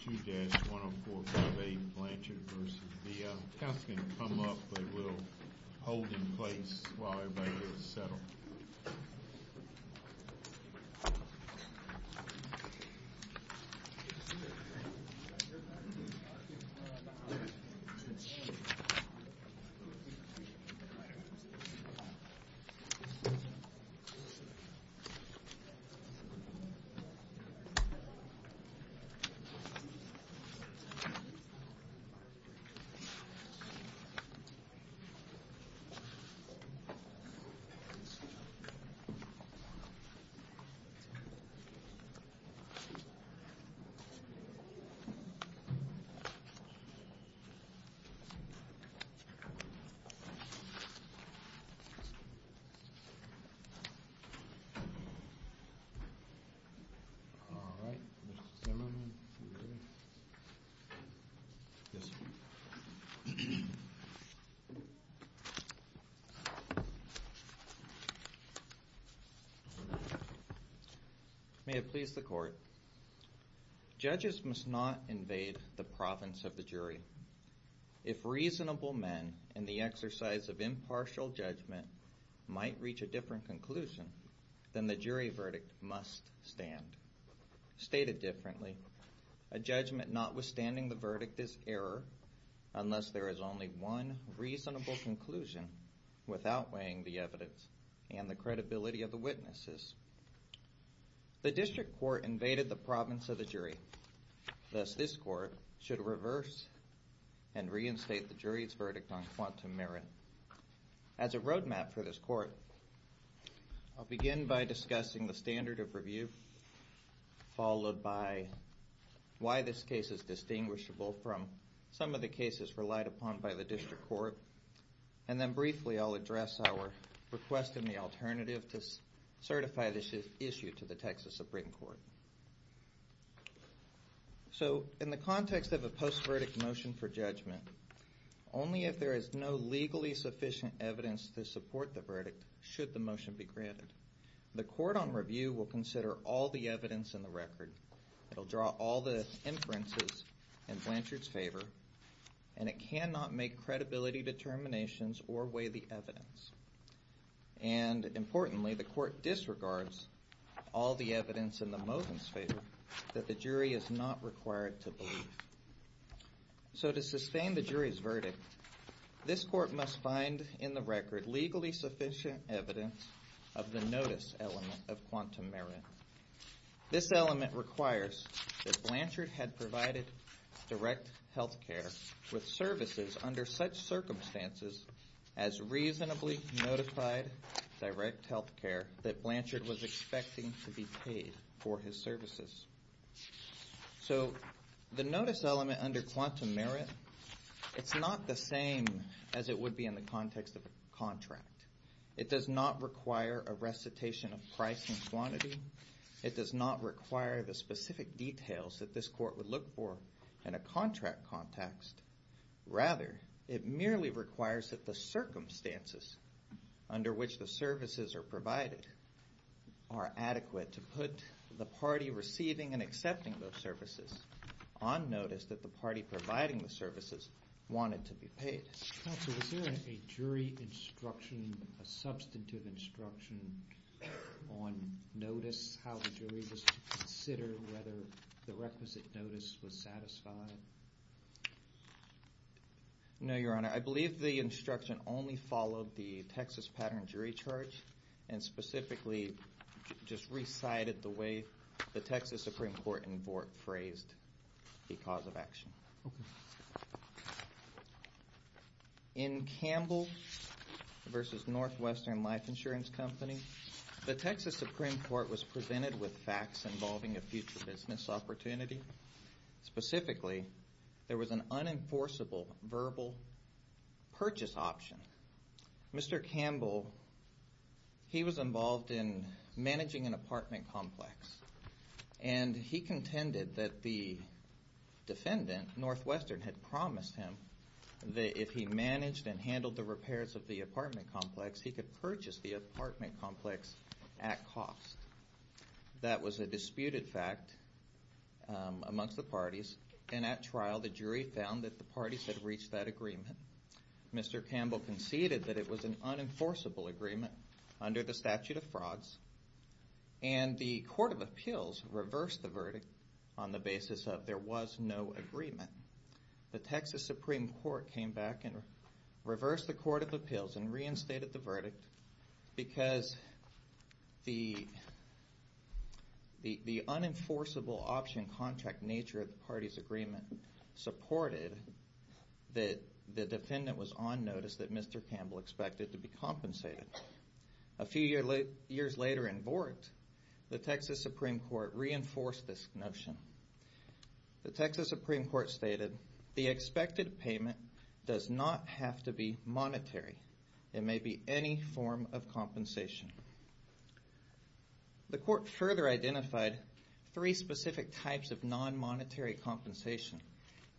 2-10458 Blanchard v. Via. The council can come up, but we'll hold in place while everybody gets settled. All right. May it please the court. Judges must not invade the province of the jury. If reasonable men in the exercise of impartial judgment might reach a different conclusion, then the jury verdict must stand. Stated differently, a judgment notwithstanding the verdict is error unless there is only one reasonable conclusion without weighing the evidence and the credibility of the witnesses. The district court invaded the province of the jury. Thus, this court should reverse and reinstate the jury's verdict on quantum merit. As a roadmap for this court, I'll begin by discussing the standard of review, followed by why this case is distinguishable from some of the cases relied upon by the district court. And then briefly, I'll address our request in the alternative to certify this issue to the Texas Supreme Court. So, in the context of a post-verdict motion for judgment, only if there is no legally sufficient evidence to support the verdict should the motion be granted. The court on review will consider all the evidence in the record. It'll draw all the inferences in Blanchard's favor, and it cannot make credibility determinations or weigh the evidence. And, importantly, the court disregards all the evidence in the motion's favor that the jury is not required to believe. So, to sustain the jury's verdict, this court must find in the record legally sufficient evidence of the notice element of quantum merit. This element requires that Blanchard had provided direct health care with services under such notified direct health care that Blanchard was expecting to be paid for his services. So, the notice element under quantum merit, it's not the same as it would be in the context of a contract. It does not require a recitation of price and quantity. It does not require the specific details that this court would look for in a contract context. Rather, it merely requires that the circumstances under which the services are provided are adequate to put the party receiving and accepting those services on notice that the party providing the services wanted to be paid. Counsel, was there a jury instruction, a substantive instruction on notice, how the jury was to consider whether the requisite notice was satisfied? No, Your Honor. I believe the instruction only followed the Texas pattern jury charge and specifically just recited the way the Texas Supreme Court in Vought phrased the cause of action. Okay. In Campbell v. Northwestern Life Insurance Company, the Texas Supreme Court was presented with facts involving a future business opportunity. Specifically, there was an unenforceable verbal purchase option. Mr. Campbell, he was involved in managing an apartment complex. And he contended that the defendant, Northwestern, had promised him that if he managed and handled the repairs of the apartment complex, he could purchase the apartment complex at cost. That was a disputed fact amongst the parties. And at trial, the jury found that the parties had reached that agreement. Mr. Campbell conceded that it was an unenforceable agreement under the statute of frauds. And the Court of Appeals reversed the verdict on the basis of there was no agreement. The Texas Supreme Court came back and reversed the Court of Appeals and reinstated the verdict because the unenforceable option contract nature of the parties' agreement supported that the defendant was on notice that Mr. Campbell expected to be compensated. A few years later in court, the Texas Supreme Court reinforced this notion. The Texas Supreme Court stated the expected payment does not have to be monetary. It may be any form of compensation. The court further identified three specific types of non-monetary compensation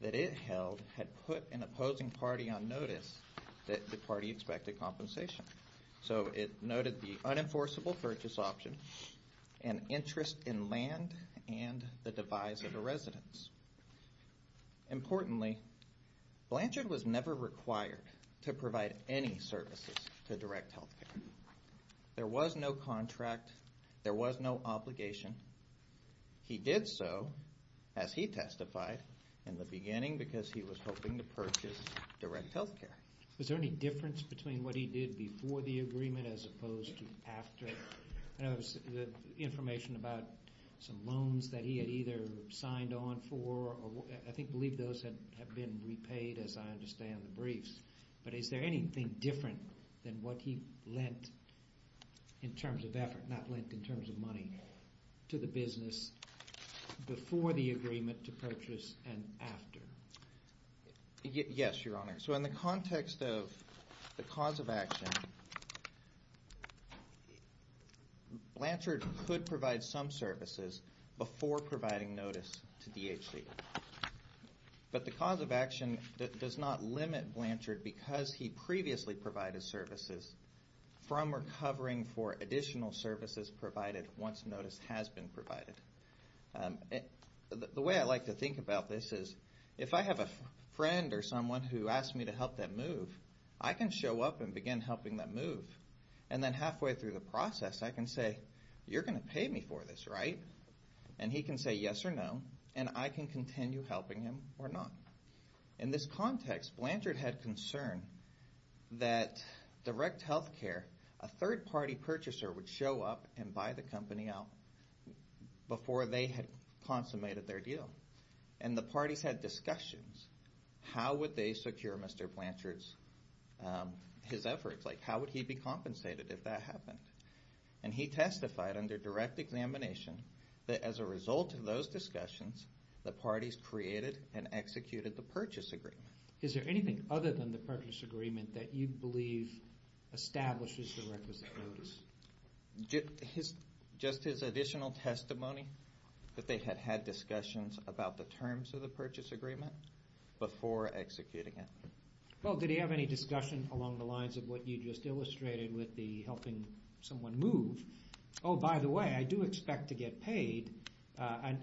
that it held had put an opposing party on notice that the party expected compensation. So it noted the unenforceable purchase option, an interest in land, and the devise of a residence. Importantly, Blanchard was never required to provide any services to Direct Health Care. There was no contract. There was no obligation. He did so, as he testified, in the beginning because he was hoping to purchase Direct Health Care. Was there any difference between what he did before the agreement as opposed to after? I know there was information about some loans that he had either signed on for. I believe those have been repaid, as I understand the briefs. But is there anything different than what he lent in terms of effort, not lent in terms of money, to the business before the agreement to purchase and after? Yes, Your Honor. So in the context of the cause of action, Blanchard could provide some services before providing notice to DHC. But the cause of action does not limit Blanchard because he previously provided services from recovering for additional services provided once notice has been provided. The way I like to think about this is if I have a friend or someone who asks me to help them move, I can show up and begin helping them move. And then halfway through the process, I can say, you're going to pay me for this, right? And he can say yes or no, and I can continue helping him or not. In this context, Blanchard had concern that Direct Health Care, a third-party purchaser would show up and buy the company out before they had consummated their deal. And the parties had discussions. How would they secure Mr. Blanchard's efforts? Like how would he be compensated if that happened? And he testified under direct examination that as a result of those discussions, the parties created and executed the purchase agreement. Is there anything other than the purchase agreement that you believe establishes the requisite notice? Just his additional testimony that they had had discussions about the terms of the purchase agreement before executing it. Well, did he have any discussion along the lines of what you just illustrated with the helping someone move? Oh, by the way, I do expect to get paid.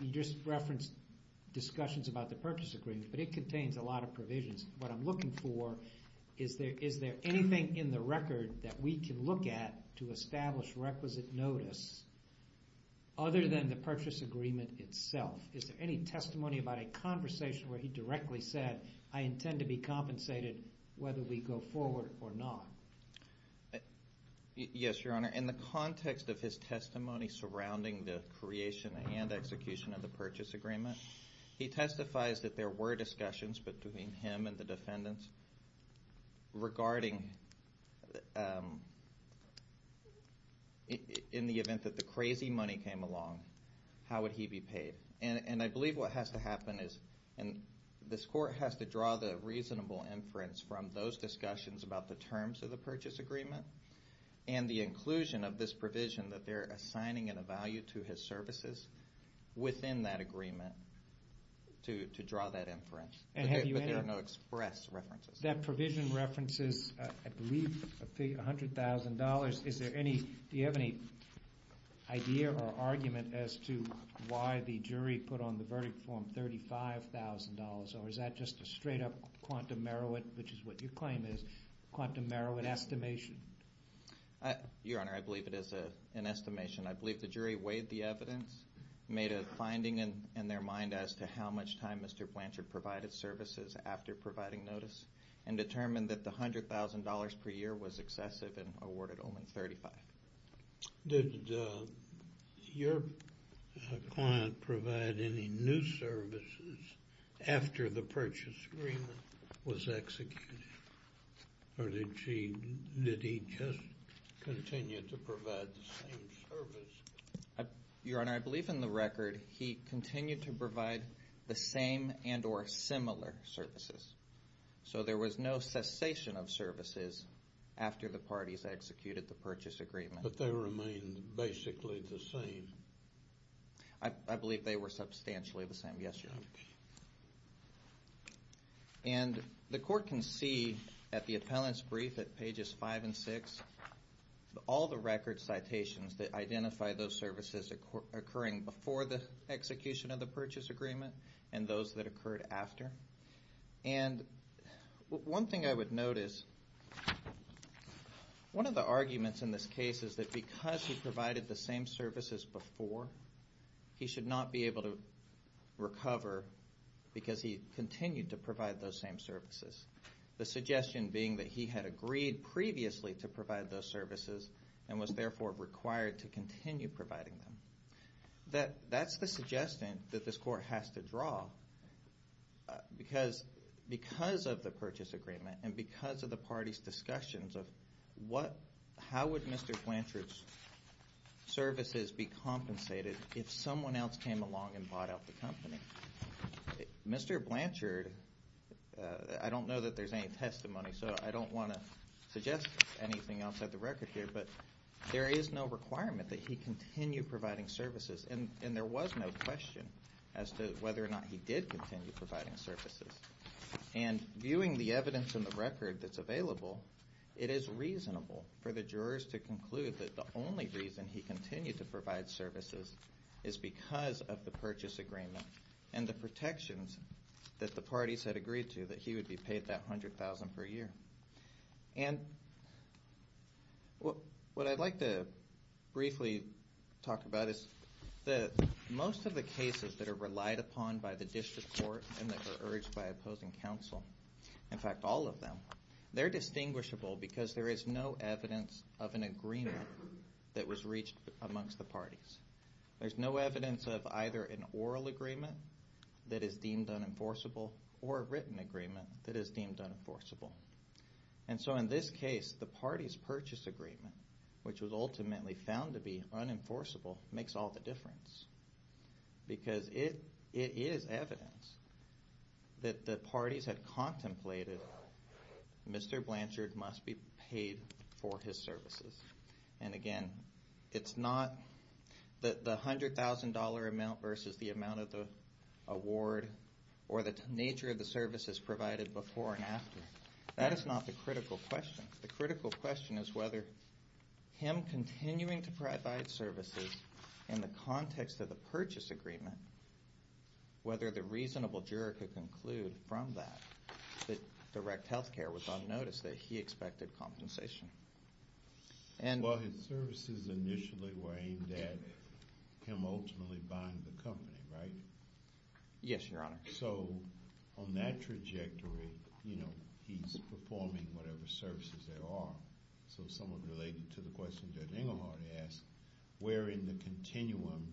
You just referenced discussions about the purchase agreement, but it contains a lot of provisions. What I'm looking for is there anything in the record that we can look at to establish requisite notice other than the purchase agreement itself? Is there any testimony about a conversation where he directly said, I intend to be compensated whether we go forward or not? Yes, Your Honor. In the context of his testimony surrounding the creation and execution of the purchase agreement, he testifies that there were discussions between him and the defendants regarding, in the event that the crazy money came along, how would he be paid? And I believe what has to happen is, and this court has to draw the reasonable inference from those discussions about the terms of the purchase agreement and the inclusion of this provision that they're assigning in a value to his services within that agreement to draw that inference. But there are no express references. That provision references, I believe, $100,000. $100,000. Do you have any idea or argument as to why the jury put on the verdict form $35,000, or is that just a straight-up quantum Meroit, which is what your claim is, quantum Meroit estimation? Your Honor, I believe it is an estimation. I believe the jury weighed the evidence, made a finding in their mind as to how much time Mr. Blanchard provided services after providing notice, and determined that the $100,000 per year was excessive and awarded only $35,000. Did your client provide any new services after the purchase agreement was executed, or did he just continue to provide the same service? Your Honor, I believe in the record he continued to provide the same and or similar services. So there was no cessation of services after the parties executed the purchase agreement. But they remained basically the same. I believe they were substantially the same, yes, Your Honor. Okay. And the court can see at the appellant's brief at pages 5 and 6 all the record citations that identify those services occurring before the execution of the purchase agreement and those that occurred after. And one thing I would note is one of the arguments in this case is that because he provided the same services before, he should not be able to recover because he continued to provide those same services, the suggestion being that he had agreed previously to provide those services and was therefore required to continue providing them. That's the suggestion that this court has to draw because of the purchase agreement and because of the parties' discussions of how would Mr. Blanchard's services be compensated if someone else came along and bought out the company. Mr. Blanchard, I don't know that there's any testimony, so I don't want to suggest anything else at the record here, but there is no requirement that he continue providing services, and there was no question as to whether or not he did continue providing services. And viewing the evidence in the record that's available, it is reasonable for the jurors to conclude that the only reason he continued to provide services is because of the purchase agreement and the protections that the parties had agreed to that he would be paid that $100,000 per year. And what I'd like to briefly talk about is that most of the cases that are relied upon by the district court and that are urged by opposing counsel, in fact all of them, they're distinguishable because there is no evidence of an agreement that was reached amongst the parties. There's no evidence of either an oral agreement that is deemed unenforceable or a written agreement that is deemed unenforceable. And so in this case, the parties' purchase agreement, which was ultimately found to be unenforceable, makes all the difference because it is evidence that the parties had contemplated Mr. Blanchard must be paid for his services. And again, it's not the $100,000 amount versus the amount of the award or the nature of the services provided before and after. That is not the critical question. The critical question is whether him continuing to provide services in the context of the purchase agreement, whether the reasonable juror could conclude from that that direct health care was unnoticed, that he expected compensation. Well, his services initially were aimed at him ultimately buying the company, right? Yes, Your Honor. So on that trajectory, he's performing whatever services there are. So somewhat related to the question Judge Engelhardt asked, where in the continuum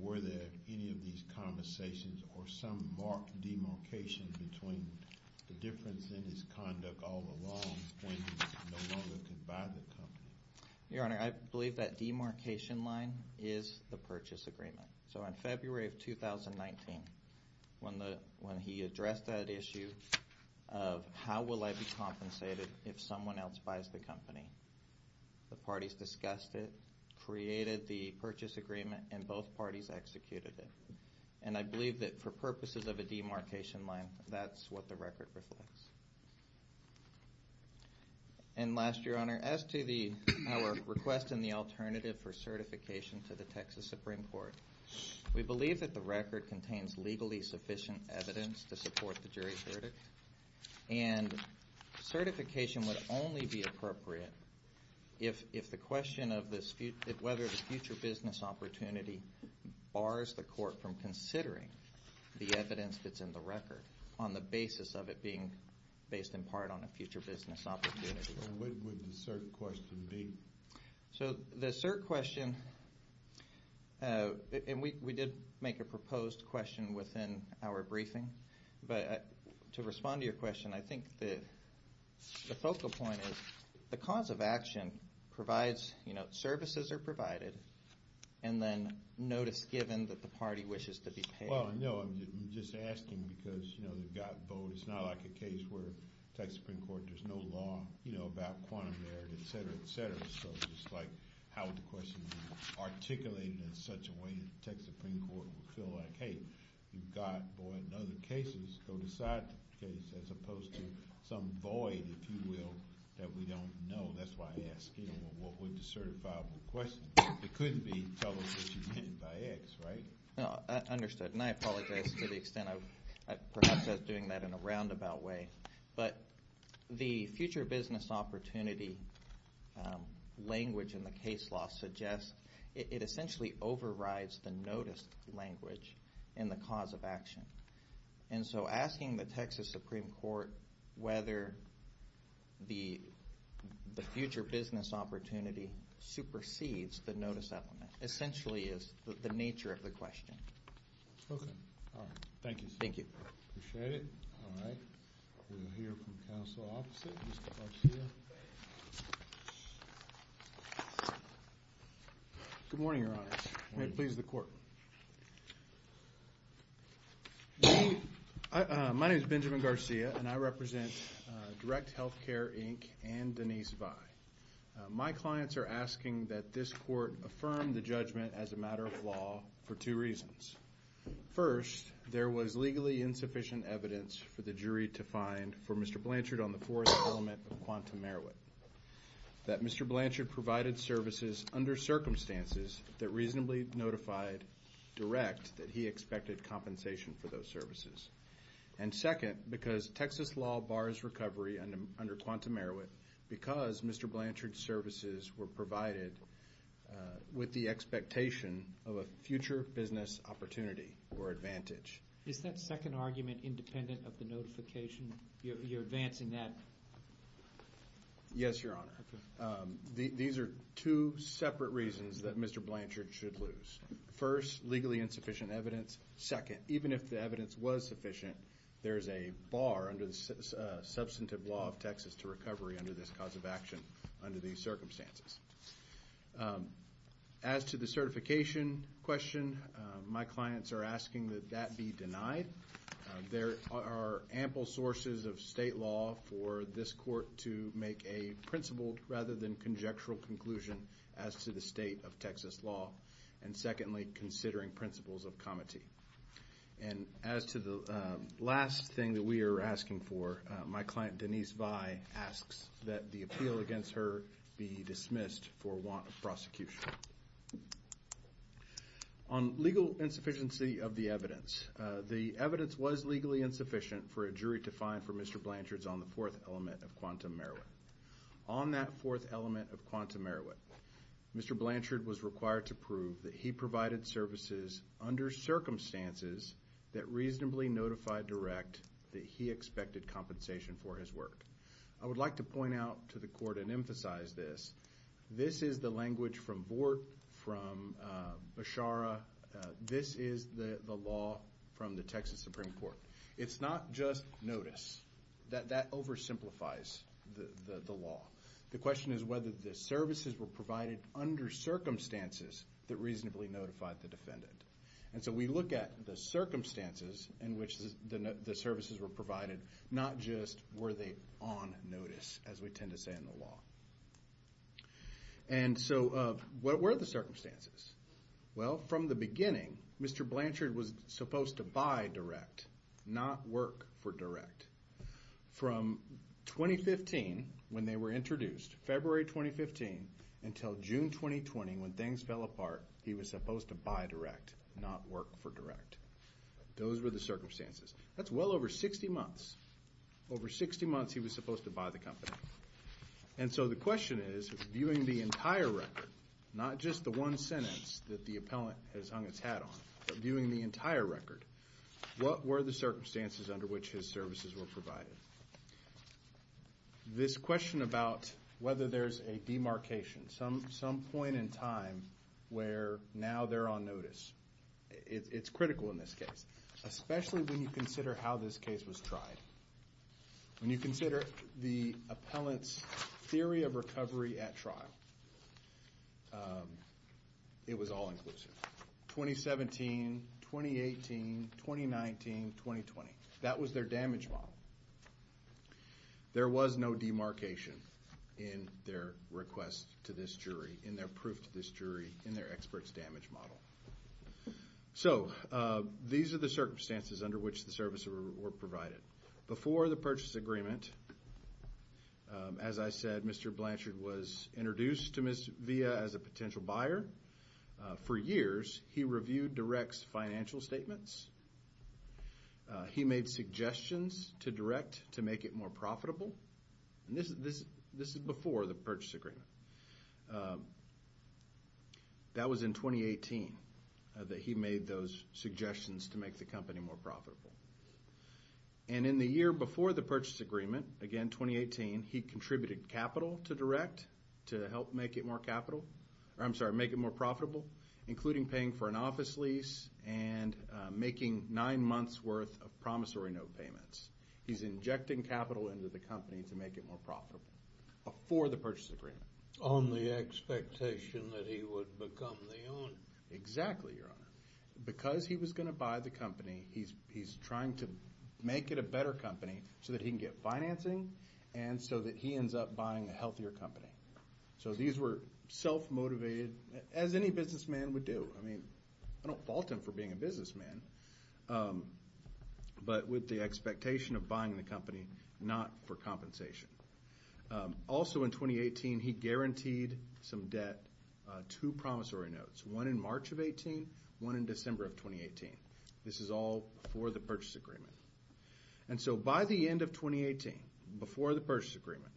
were there any of these conversations or some demarcation between the difference in his conduct all along when he no longer could buy the company? Your Honor, I believe that demarcation line is the purchase agreement. So on February of 2019, when he addressed that issue of how will I be compensated if someone else buys the company, the parties discussed it, created the purchase agreement, and both parties executed it. And I believe that for purposes of a demarcation line, that's what the record reflects. And last, Your Honor, as to our request in the alternative for certification to the Texas Supreme Court, we believe that the record contains legally sufficient evidence to support the jury's verdict. And certification would only be appropriate if the question of whether the future business opportunity bars the court from considering the evidence that's in the record on the basis of it being based in part on a future business opportunity. What would the cert question be? So the cert question, and we did make a proposed question within our briefing, but to respond to your question, I think the focal point is the cause of action provides, you know, notice given that the party wishes to be paid. Well, no, I'm just asking because, you know, they've got vote. It's not like a case where Texas Supreme Court, there's no law, you know, about quantum merit, et cetera, et cetera. So it's just like how would the question be articulated in such a way that the Texas Supreme Court would feel like, hey, you've got void in other cases, go decide the case, as opposed to some void, if you will, that we don't know. That's why I ask, you know, what would the certifiable question? It couldn't be troubleshooting by X, right? No, understood. And I apologize to the extent of perhaps I was doing that in a roundabout way. But the future business opportunity language in the case law suggests it essentially overrides the notice language in the cause of action. And so asking the Texas Supreme Court whether the future business opportunity supersedes the notice element essentially is the nature of the question. Okay. All right. Thank you, sir. Thank you. Appreciate it. All right. We'll hear from counsel opposite, Mr. Garcia. Good morning, Your Honor. Good morning. May it please the Court. My name is Benjamin Garcia, and I represent Direct Healthcare, Inc. and Denise Vai. My clients are asking that this Court affirm the judgment as a matter of law for two reasons. First, there was legally insufficient evidence for the jury to find for Mr. Blanchard on the fourth element of quantum Merowith, that Mr. Blanchard provided services under circumstances that reasonably notified Direct that he expected compensation for those services. And second, because Texas law bars recovery under quantum Merowith because Mr. Blanchard's services were provided with the expectation of a future business opportunity or advantage. Is that second argument independent of the notification? You're advancing that? Yes, Your Honor. These are two separate reasons that Mr. Blanchard should lose. First, legally insufficient evidence. Second, even if the evidence was sufficient, there is a bar under the substantive law of Texas to recovery under this cause of action under these circumstances. As to the certification question, my clients are asking that that be denied. There are ample sources of state law for this Court to make a principled rather than conjectural conclusion as to the state of Texas law. And secondly, considering principles of comity. And as to the last thing that we are asking for, my client Denise Vai asks that the appeal against her be dismissed for want of prosecution. On legal insufficiency of the evidence, the evidence was legally insufficient for a jury to find for Mr. Blanchard's on the fourth element of quantum Merowith. On that fourth element of quantum Merowith, Mr. Blanchard was required to prove that he provided services under circumstances that reasonably notified Direct that he expected compensation for his work. I would like to point out to the Court and emphasize this. This is the language from Vort, from Beshara. This is the law from the Texas Supreme Court. It's not just notice. That oversimplifies the law. The question is whether the services were provided under circumstances that reasonably notified the defendant. And so we look at the circumstances in which the services were provided, not just were they on notice as we tend to say in the law. And so what were the circumstances? Well, from the beginning, Mr. Blanchard was supposed to buy Direct, not work for Direct. From 2015, when they were introduced, February 2015, until June 2020, when things fell apart, he was supposed to buy Direct, not work for Direct. Those were the circumstances. That's well over 60 months. Over 60 months he was supposed to buy the company. And so the question is, viewing the entire record, not just the one sentence that the appellant has hung its hat on, but viewing the entire record, what were the circumstances under which his services were provided? This question about whether there's a demarcation, some point in time where now they're on notice, it's critical in this case, especially when you consider how this case was tried. When you consider the appellant's theory of recovery at trial, it was all-inclusive. 2017, 2018, 2019, 2020, that was their damage model. There was no demarcation in their request to this jury, in their proof to this jury, in their expert's damage model. So these are the circumstances under which the services were provided. Before the purchase agreement, as I said, Mr. Blanchard was introduced to Ms. Villa as a potential buyer. For years, he reviewed Direct's financial statements. He made suggestions to Direct to make it more profitable. And this is before the purchase agreement. That was in 2018 that he made those suggestions to make the company more profitable. And in the year before the purchase agreement, again, 2018, he contributed capital to Direct to help make it more capital. I'm sorry, make it more profitable, including paying for an office lease and making nine months' worth of promissory note payments. He's injecting capital into the company to make it more profitable before the purchase agreement. On the expectation that he would become the owner. Exactly, Your Honor. Because he was going to buy the company, he's trying to make it a better company so that he can get financing and so that he ends up buying a healthier company. So these were self-motivated, as any businessman would do. I mean, I don't fault him for being a businessman. But with the expectation of buying the company, not for compensation. Also in 2018, he guaranteed some debt to promissory notes, one in March of 2018, one in December of 2018. This is all before the purchase agreement. And so by the end of 2018, before the purchase agreement,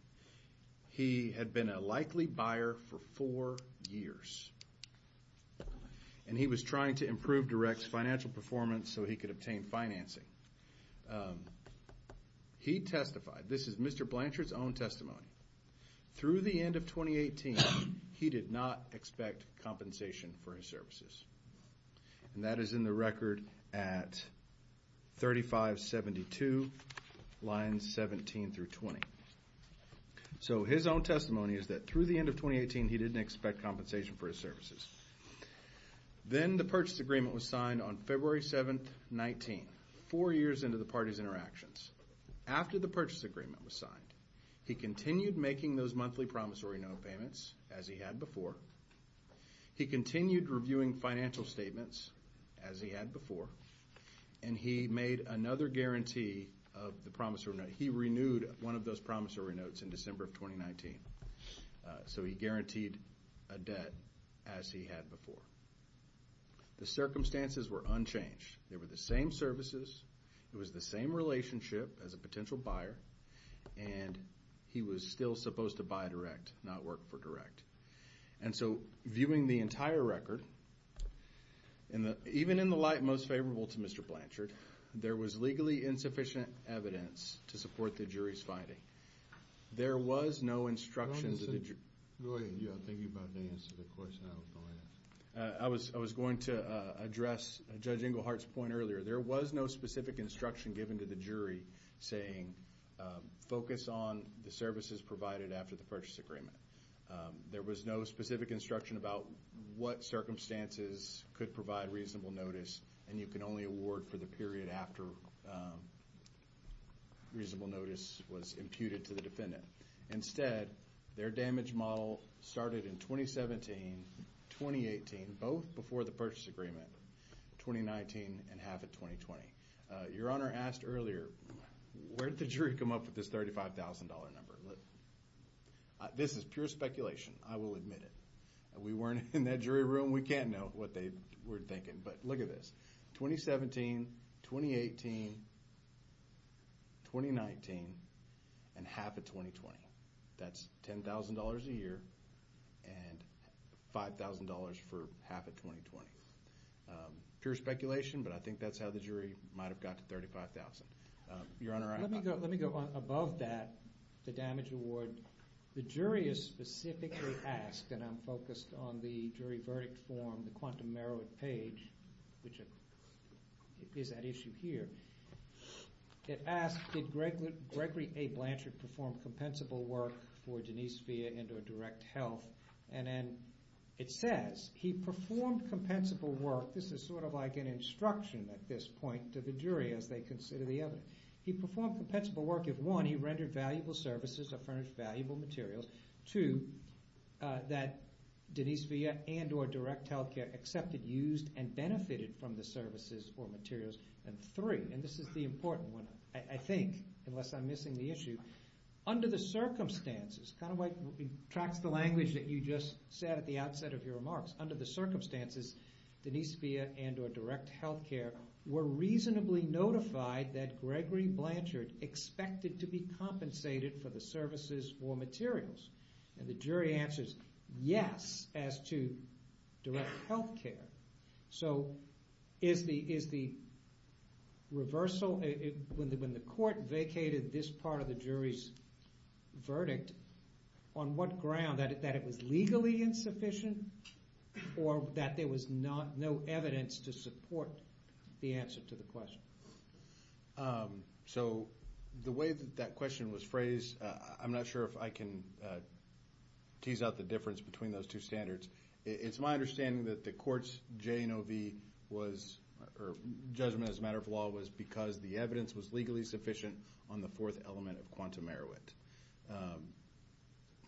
he had been a likely buyer for four years. And he was trying to improve Direct's financial performance so he could obtain financing. He testified, this is Mr. Blanchard's own testimony. Through the end of 2018, he did not expect compensation for his services. And that is in the record at 3572, lines 17 through 20. So his own testimony is that through the end of 2018, he didn't expect compensation for his services. Then the purchase agreement was signed on February 7, 19, four years into the party's interactions. After the purchase agreement was signed, he continued making those monthly promissory note payments, as he had before. He continued reviewing financial statements, as he had before. And he made another guarantee of the promissory note. He renewed one of those promissory notes in December of 2019. So he guaranteed a debt, as he had before. The circumstances were unchanged. They were the same services. It was the same relationship as a potential buyer. And he was still supposed to buy Direct, not work for Direct. And so, viewing the entire record, even in the light most favorable to Mr. Blanchard, there was legally insufficient evidence to support the jury's finding. There was no instruction to the jury. Go ahead. I'm thinking about the answer to the question I was going to ask. I was going to address Judge Englehart's point earlier. There was no specific instruction given to the jury saying, focus on the services provided after the purchase agreement. There was no specific instruction about what circumstances could provide reasonable notice, and you can only award for the period after reasonable notice was imputed to the defendant. Instead, their damage model started in 2017, 2018, both before the purchase agreement, 2019, and half of 2020. Your Honor asked earlier, where did the jury come up with this $35,000 number? This is pure speculation. I will admit it. We weren't in that jury room. We can't know what they were thinking. But look at this. 2017, 2018, 2019, and half of 2020. That's $10,000 a year and $5,000 for half of 2020. Pure speculation, but I think that's how the jury might have got to $35,000. Your Honor, I have my point. Let me go above that, the damage award. The jury is specifically asked, and I'm focused on the jury verdict form, the quantum merit page, which is at issue here. It asks, did Gregory A. Blanchard perform compensable work for Denise Villa into a direct health? And then it says, he performed compensable work. This is sort of like an instruction at this point to the jury as they consider the evidence. He performed compensable work if, one, he rendered valuable services or furnished valuable materials, two, that Denise Villa and or direct health care accepted, used, and benefited from the services or materials, and three, and this is the important one, I think, unless I'm missing the issue, under the circumstances, kind of like it tracks the language that you just said at the outset of your remarks, under the circumstances, Denise Villa and or direct health care were reasonably notified that Gregory Blanchard expected to be compensated for the services or materials, and the jury answers yes as to direct health care. So is the reversal, when the court vacated this part of the jury's verdict, on what ground, that it was legally insufficient or that there was no evidence to support the answer to the question? So the way that that question was phrased, I'm not sure if I can tease out the difference between those two standards. It's my understanding that the court's JNOV was, or judgment as a matter of law, was because the evidence was legally sufficient on the fourth element of quantum merit,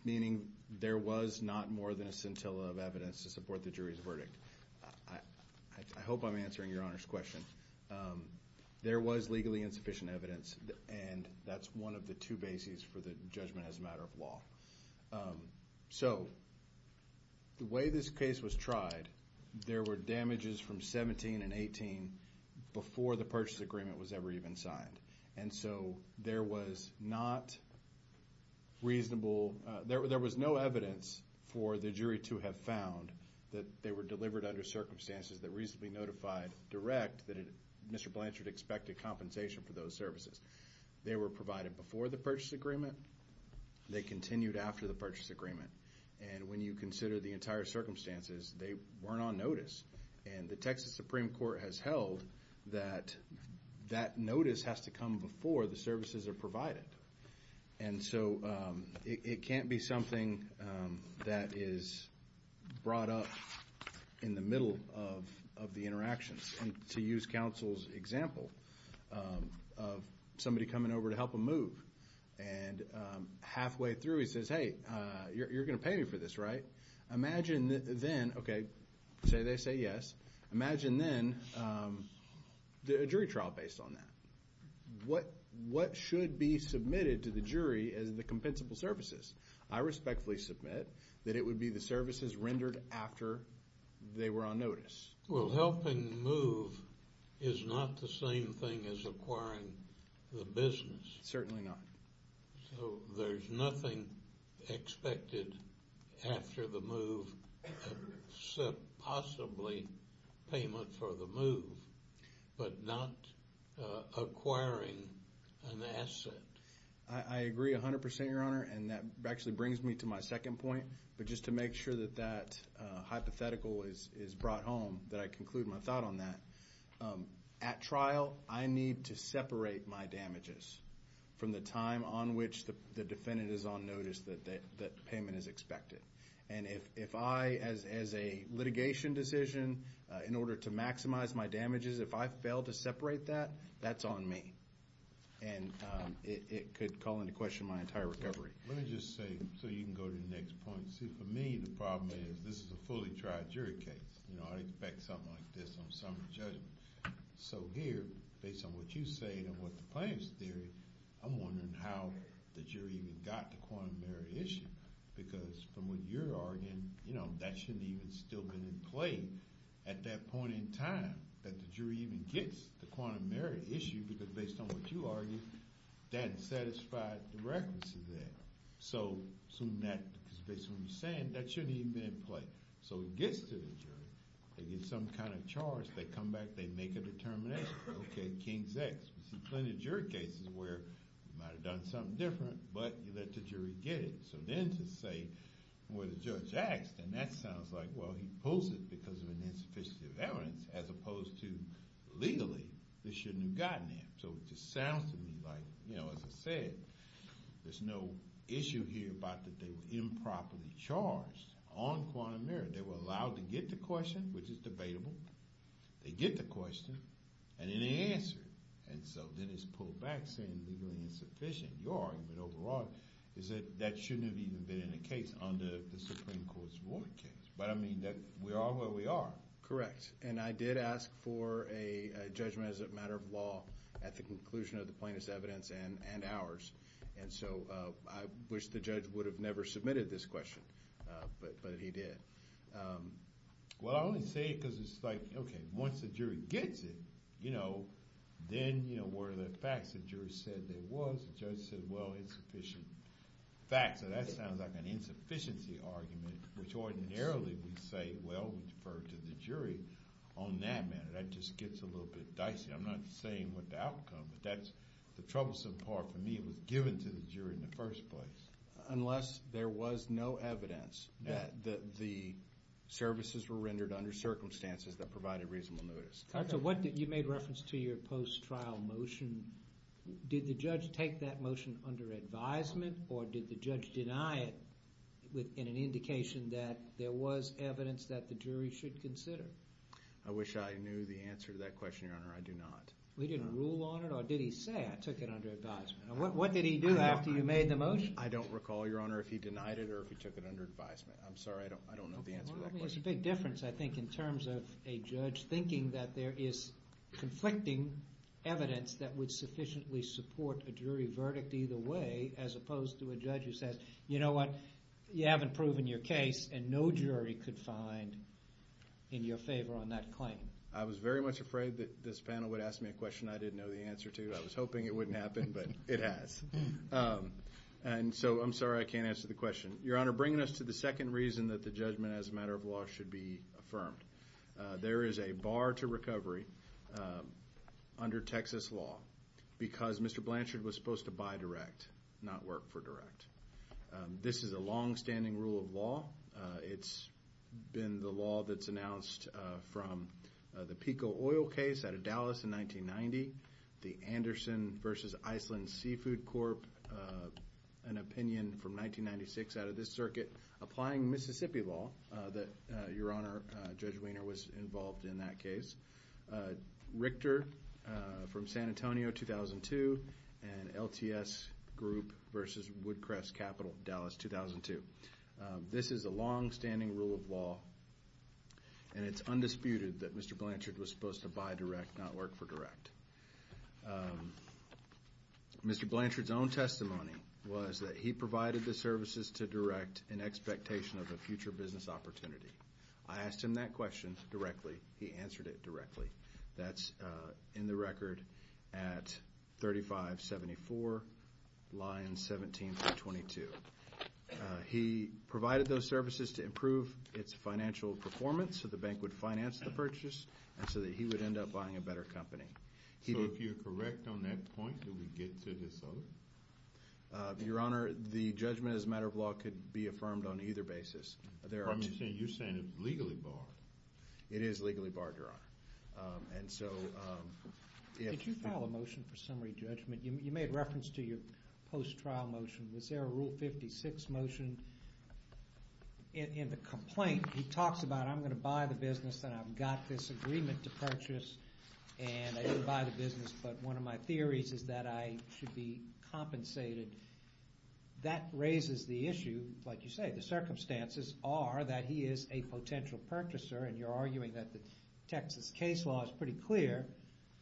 meaning there was not more than a scintilla of evidence to support the jury's verdict. I hope I'm answering Your Honor's question. There was legally insufficient evidence, and that's one of the two bases for the judgment as a matter of law. So the way this case was tried, there were damages from 17 and 18 before the purchase agreement was ever even signed. And so there was no evidence for the jury to have found that they were delivered under circumstances that reasonably notified direct that Mr. Blanchard expected compensation for those services. They were provided before the purchase agreement. They continued after the purchase agreement. And when you consider the entire circumstances, they weren't on notice. And the Texas Supreme Court has held that that notice has to come before the services are provided. And so it can't be something that is brought up in the middle of the interactions. To use counsel's example of somebody coming over to help him move, and halfway through he says, hey, you're going to pay me for this, right? Imagine then, okay, say they say yes. Imagine then a jury trial based on that. What should be submitted to the jury as the compensable services? I respectfully submit that it would be the services rendered after they were on notice. Well, helping move is not the same thing as acquiring the business. Certainly not. So there's nothing expected after the move except possibly payment for the move, but not acquiring an asset. I agree 100%, Your Honor, and that actually brings me to my second point. But just to make sure that that hypothetical is brought home, that I conclude my thought on that. At trial, I need to separate my damages from the time on which the defendant is on notice that payment is expected. And if I, as a litigation decision, in order to maximize my damages, if I fail to separate that, that's on me. And it could call into question my entire recovery. Let me just say, so you can go to the next point. See, for me, the problem is this is a fully tried jury case. You know, I expect something like this on some judgment. So here, based on what you say and what the plaintiff's theory, I'm wondering how the jury even got the quantum merit issue. Because from what you're arguing, you know, that shouldn't even still be in play at that point in time that the jury even gets the quantum merit issue. Because based on what you argue, that doesn't satisfy the requirements of that. So assuming that, because based on what you're saying, that shouldn't even be in play. So it gets to the jury. They get some kind of charge. They come back. They make a determination. OK, King's X. We see plenty of jury cases where you might have done something different, but you let the jury get it. So then to say where the judge acts, then that sounds like, well, he pulls it because of an insufficiency of evidence, as opposed to legally, this shouldn't have gotten there. So it just sounds to me like, you know, as I said, there's no issue here about that they were improperly charged on quantum merit. They were allowed to get the question, which is debatable. They get the question, and then they answer it. And so then it's pulled back, saying legally insufficient. Your argument overall is that that shouldn't have even been in a case under the Supreme Court's ruling case. But, I mean, we are where we are. Correct. And I did ask for a judgment as a matter of law at the conclusion of the plaintiff's evidence and ours. And so I wish the judge would have never submitted this question, but he did. Well, I only say it because it's like, okay, once the jury gets it, you know, then, you know, where are the facts? The jury said there was. The judge said, well, insufficient facts. So that sounds like an insufficiency argument, which ordinarily we'd say, well, we defer to the jury on that matter. That just gets a little bit dicey. I'm not saying with the outcome, but that's the troublesome part for me. It was given to the jury in the first place. Unless there was no evidence that the services were rendered under circumstances that provided reasonable notice. What you made reference to your post-trial motion, did the judge take that motion under advisement? Or did the judge deny it in an indication that there was evidence that the jury should consider? I wish I knew the answer to that question, Your Honor. I do not. He didn't rule on it? Or did he say, I took it under advisement? What did he do after you made the motion? I don't recall, Your Honor, if he denied it or if he took it under advisement. I'm sorry. I don't know the answer to that question. There's a big difference, I think, in terms of a judge thinking that there is conflicting evidence that would sufficiently support a jury verdict either way, as opposed to a judge who says, you know what, you haven't proven your case, and no jury could find in your favor on that claim. I was very much afraid that this panel would ask me a question I didn't know the answer to. I was hoping it wouldn't happen, but it has. And so I'm sorry I can't answer the question. Your Honor, bringing us to the second reason that the judgment as a matter of law should be affirmed, there is a bar to recovery under Texas law because Mr. Blanchard was supposed to buy direct, not work for direct. This is a longstanding rule of law. It's been the law that's announced from the PICO oil case out of Dallas in 1990, the Anderson v. Iceland Seafood Corp., an opinion from 1996 out of this circuit, applying Mississippi law that, Your Honor, Judge Wiener was involved in that case, Richter from San Antonio, 2002, and LTS Group v. Woodcrest Capital, Dallas, 2002. This is a longstanding rule of law, and it's undisputed that Mr. Blanchard was supposed to buy direct, not work for direct. Mr. Blanchard's own testimony was that he provided the services to direct in expectation of a future business opportunity. I asked him that question directly. He answered it directly. That's in the record at 3574, lines 17 through 22. He provided those services to improve its financial performance so the bank would finance the purchase and so that he would end up buying a better company. So if you're correct on that point, do we get to this other? Your Honor, the judgment as a matter of law could be affirmed on either basis. You're saying it's legally barred. It is legally barred, Your Honor. Did you file a motion for summary judgment? You made reference to your post-trial motion. Was there a Rule 56 motion? In the complaint, he talks about, I'm going to buy the business, and I've got this agreement to purchase, and I didn't buy the business, but one of my theories is that I should be compensated. That raises the issue, like you say, the circumstances are that he is a potential purchaser, and you're arguing that the Texas case law is pretty clear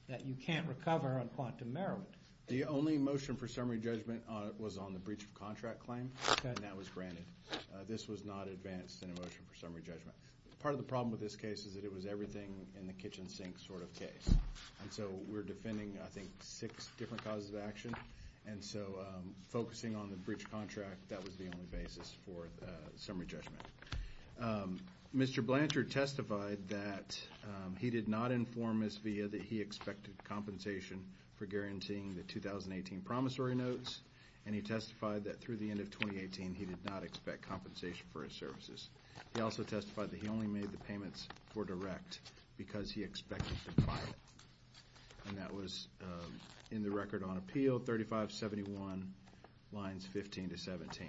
that you can't recover on quantum merriment. The only motion for summary judgment was on the breach of contract claim, and that was granted. This was not advanced in a motion for summary judgment. Part of the problem with this case is that it was everything in the kitchen sink sort of case. And so we're defending, I think, six different causes of action. And so focusing on the breach of contract, that was the only basis for summary judgment. Mr. Blanchard testified that he did not inform Ms. Villa that he expected compensation for guaranteeing the 2018 promissory notes, and he testified that through the end of 2018, he did not expect compensation for his services. He also testified that he only made the payments for direct because he expected to file it. And that was in the record on appeal, 3571 lines 15 to 17.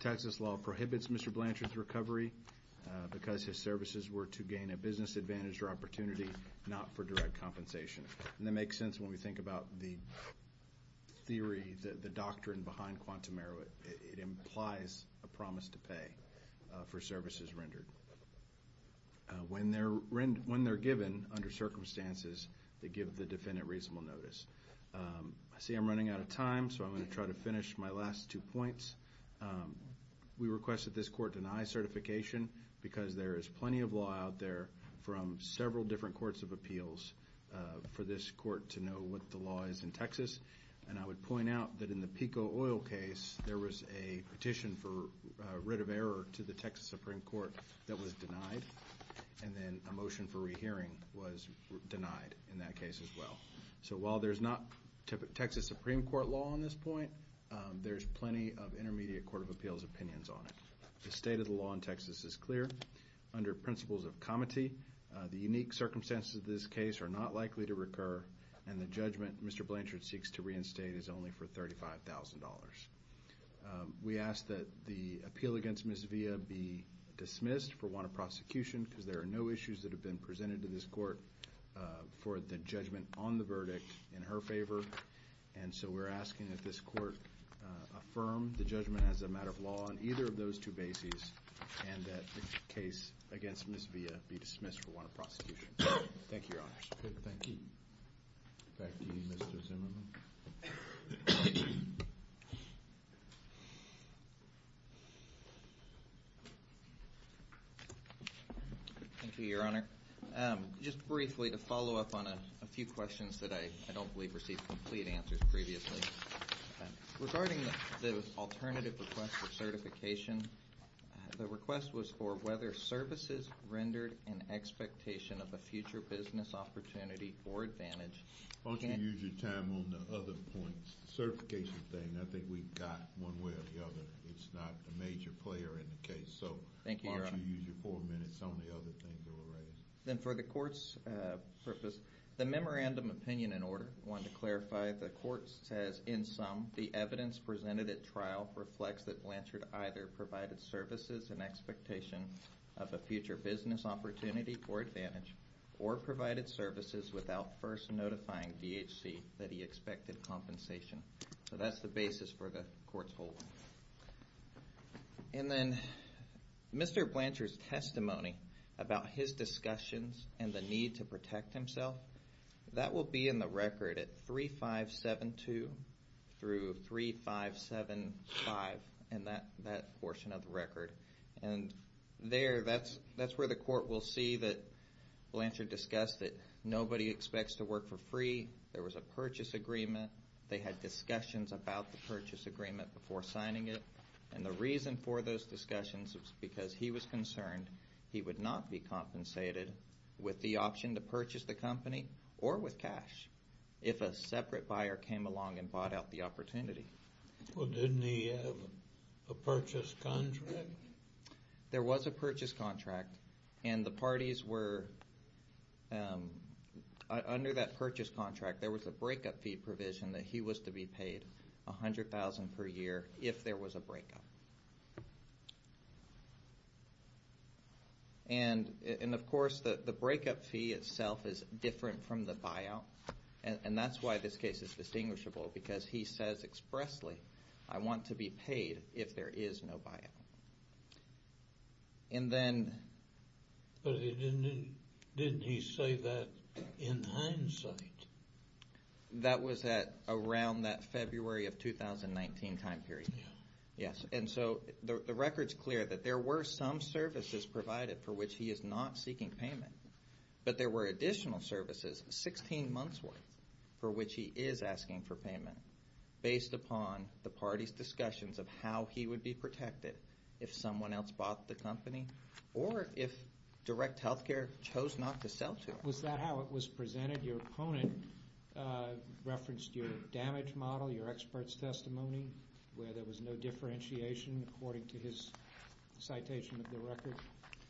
Texas law prohibits Mr. Blanchard's recovery because his services were to gain a business advantage or opportunity, not for direct compensation. And that makes sense when we think about the theory, the doctrine behind quantum merriment. It implies a promise to pay for services rendered. When they're given under circumstances, they give the defendant reasonable notice. I see I'm running out of time, so I'm going to try to finish my last two points. We request that this court deny certification because there is plenty of law out there from several different courts of appeals for this court to know what the law is in Texas. And I would point out that in the PICO oil case, there was a petition for writ of error to the Texas Supreme Court that was denied. And then a motion for rehearing was denied in that case as well. So while there's not Texas Supreme Court law on this point, there's plenty of intermediate court of appeals opinions on it. The state of the law in Texas is clear under principles of comity. The unique circumstances of this case are not likely to recur, and the judgment Mr. Blanchard seeks to reinstate is only for $35,000. We ask that the appeal against Ms. Villa be dismissed for want of prosecution because there are no issues that have been presented to this court for the judgment on the verdict in her favor. And so we're asking that this court affirm the judgment as a matter of law on either of those two bases and that the case against Ms. Villa be dismissed for want of prosecution. Thank you, Your Honor. Thank you. Back to you, Mr. Zimmerman. Thank you, Your Honor. Just briefly to follow up on a few questions that I don't believe received complete answers previously. Regarding the alternative request for certification, the request was for whether services rendered an expectation of a future business opportunity or advantage. Why don't you use your time on the other points? The certification thing, I think we've got one way or the other. It's not a major player in the case, so why don't you use your four minutes on the other things that were raised? Then for the court's purpose, the memorandum opinion in order. Or provided services without first notifying DHC that he expected compensation. So that's the basis for the court's hold. And then Mr. Blanchard's testimony about his discussions and the need to protect himself, that will be in the record at 3572 through 3575 in that portion of the record. There, that's where the court will see that Blanchard discussed that nobody expects to work for free. There was a purchase agreement. They had discussions about the purchase agreement before signing it. And the reason for those discussions was because he was concerned he would not be compensated with the option to purchase the company or with cash if a separate buyer came along and bought out the opportunity. Well, didn't he have a purchase contract? There was a purchase contract. And the parties were, under that purchase contract, there was a breakup fee provision that he was to be paid $100,000 per year if there was a breakup. And of course, the breakup fee itself is different from the buyout. And that's why this case is distinguishable, because he says expressly, I want to be paid if there is no buyout. But didn't he say that in hindsight? That was at around that February of 2019 time period. Yes. And so the record's clear that there were some services provided for which he is not seeking payment. But there were additional services, 16 months' worth, for which he is asking for payment, based upon the parties' discussions of how he would be protected if someone else bought the company or if direct health care chose not to sell to him. Was that how it was presented? Your opponent referenced your damage model, your expert's testimony, where there was no differentiation according to his citation of the record.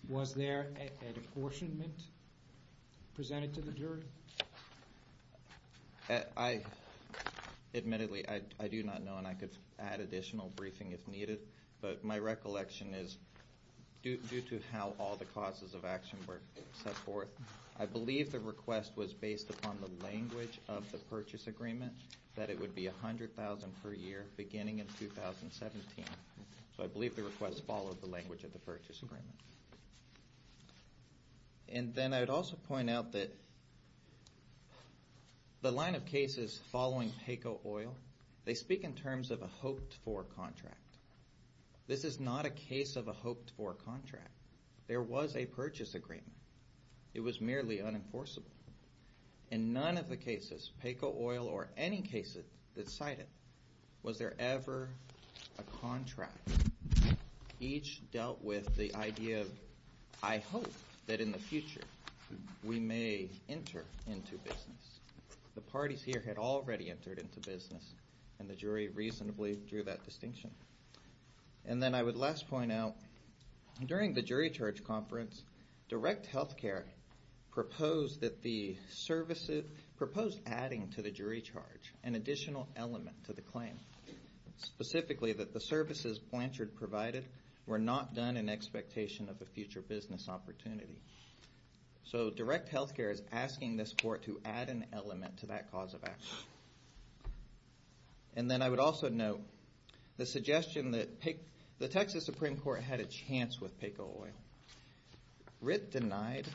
Was there a apportionment presented to the jury? Admittedly, I do not know. And I could add additional briefing if needed. But my recollection is, due to how all the causes of action were set forth, I believe the request was based upon the language of the purchase agreement, that it would be $100,000 per year beginning in 2017. So I believe the request followed the language of the purchase agreement. And then I would also point out that the line of cases following Payco Oil, they speak in terms of a hoped-for contract. This is not a case of a hoped-for contract. There was a purchase agreement. It was merely unenforceable. In none of the cases, Payco Oil or any cases that cite it, was there ever a contract. Each dealt with the idea of, I hope that in the future we may enter into business. The parties here had already entered into business, and the jury reasonably drew that distinction. And then I would last point out, during the jury charge conference, Direct Health Care proposed adding to the jury charge an additional element to the claim, specifically that the services Blanchard provided were not done in expectation of a future business opportunity. So Direct Health Care is asking this court to add an element to that cause of action. And then I would also note the suggestion that the Texas Supreme Court had a chance with Payco Oil. Writ denied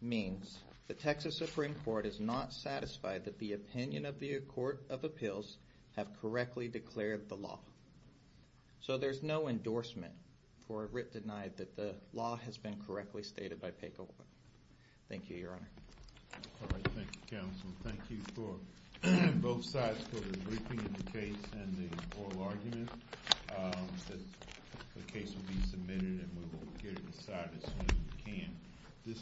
means the Texas Supreme Court is not satisfied that the opinion of the Court of Appeals have correctly declared the law. So there's no endorsement for a writ denied that the law has been correctly stated by Payco Oil. Thank you, Your Honor. All right. Thank you, Counsel. Thank you for both sides for the briefing of the case and the oral argument. The case will be submitted, and we will get it decided as soon as we can.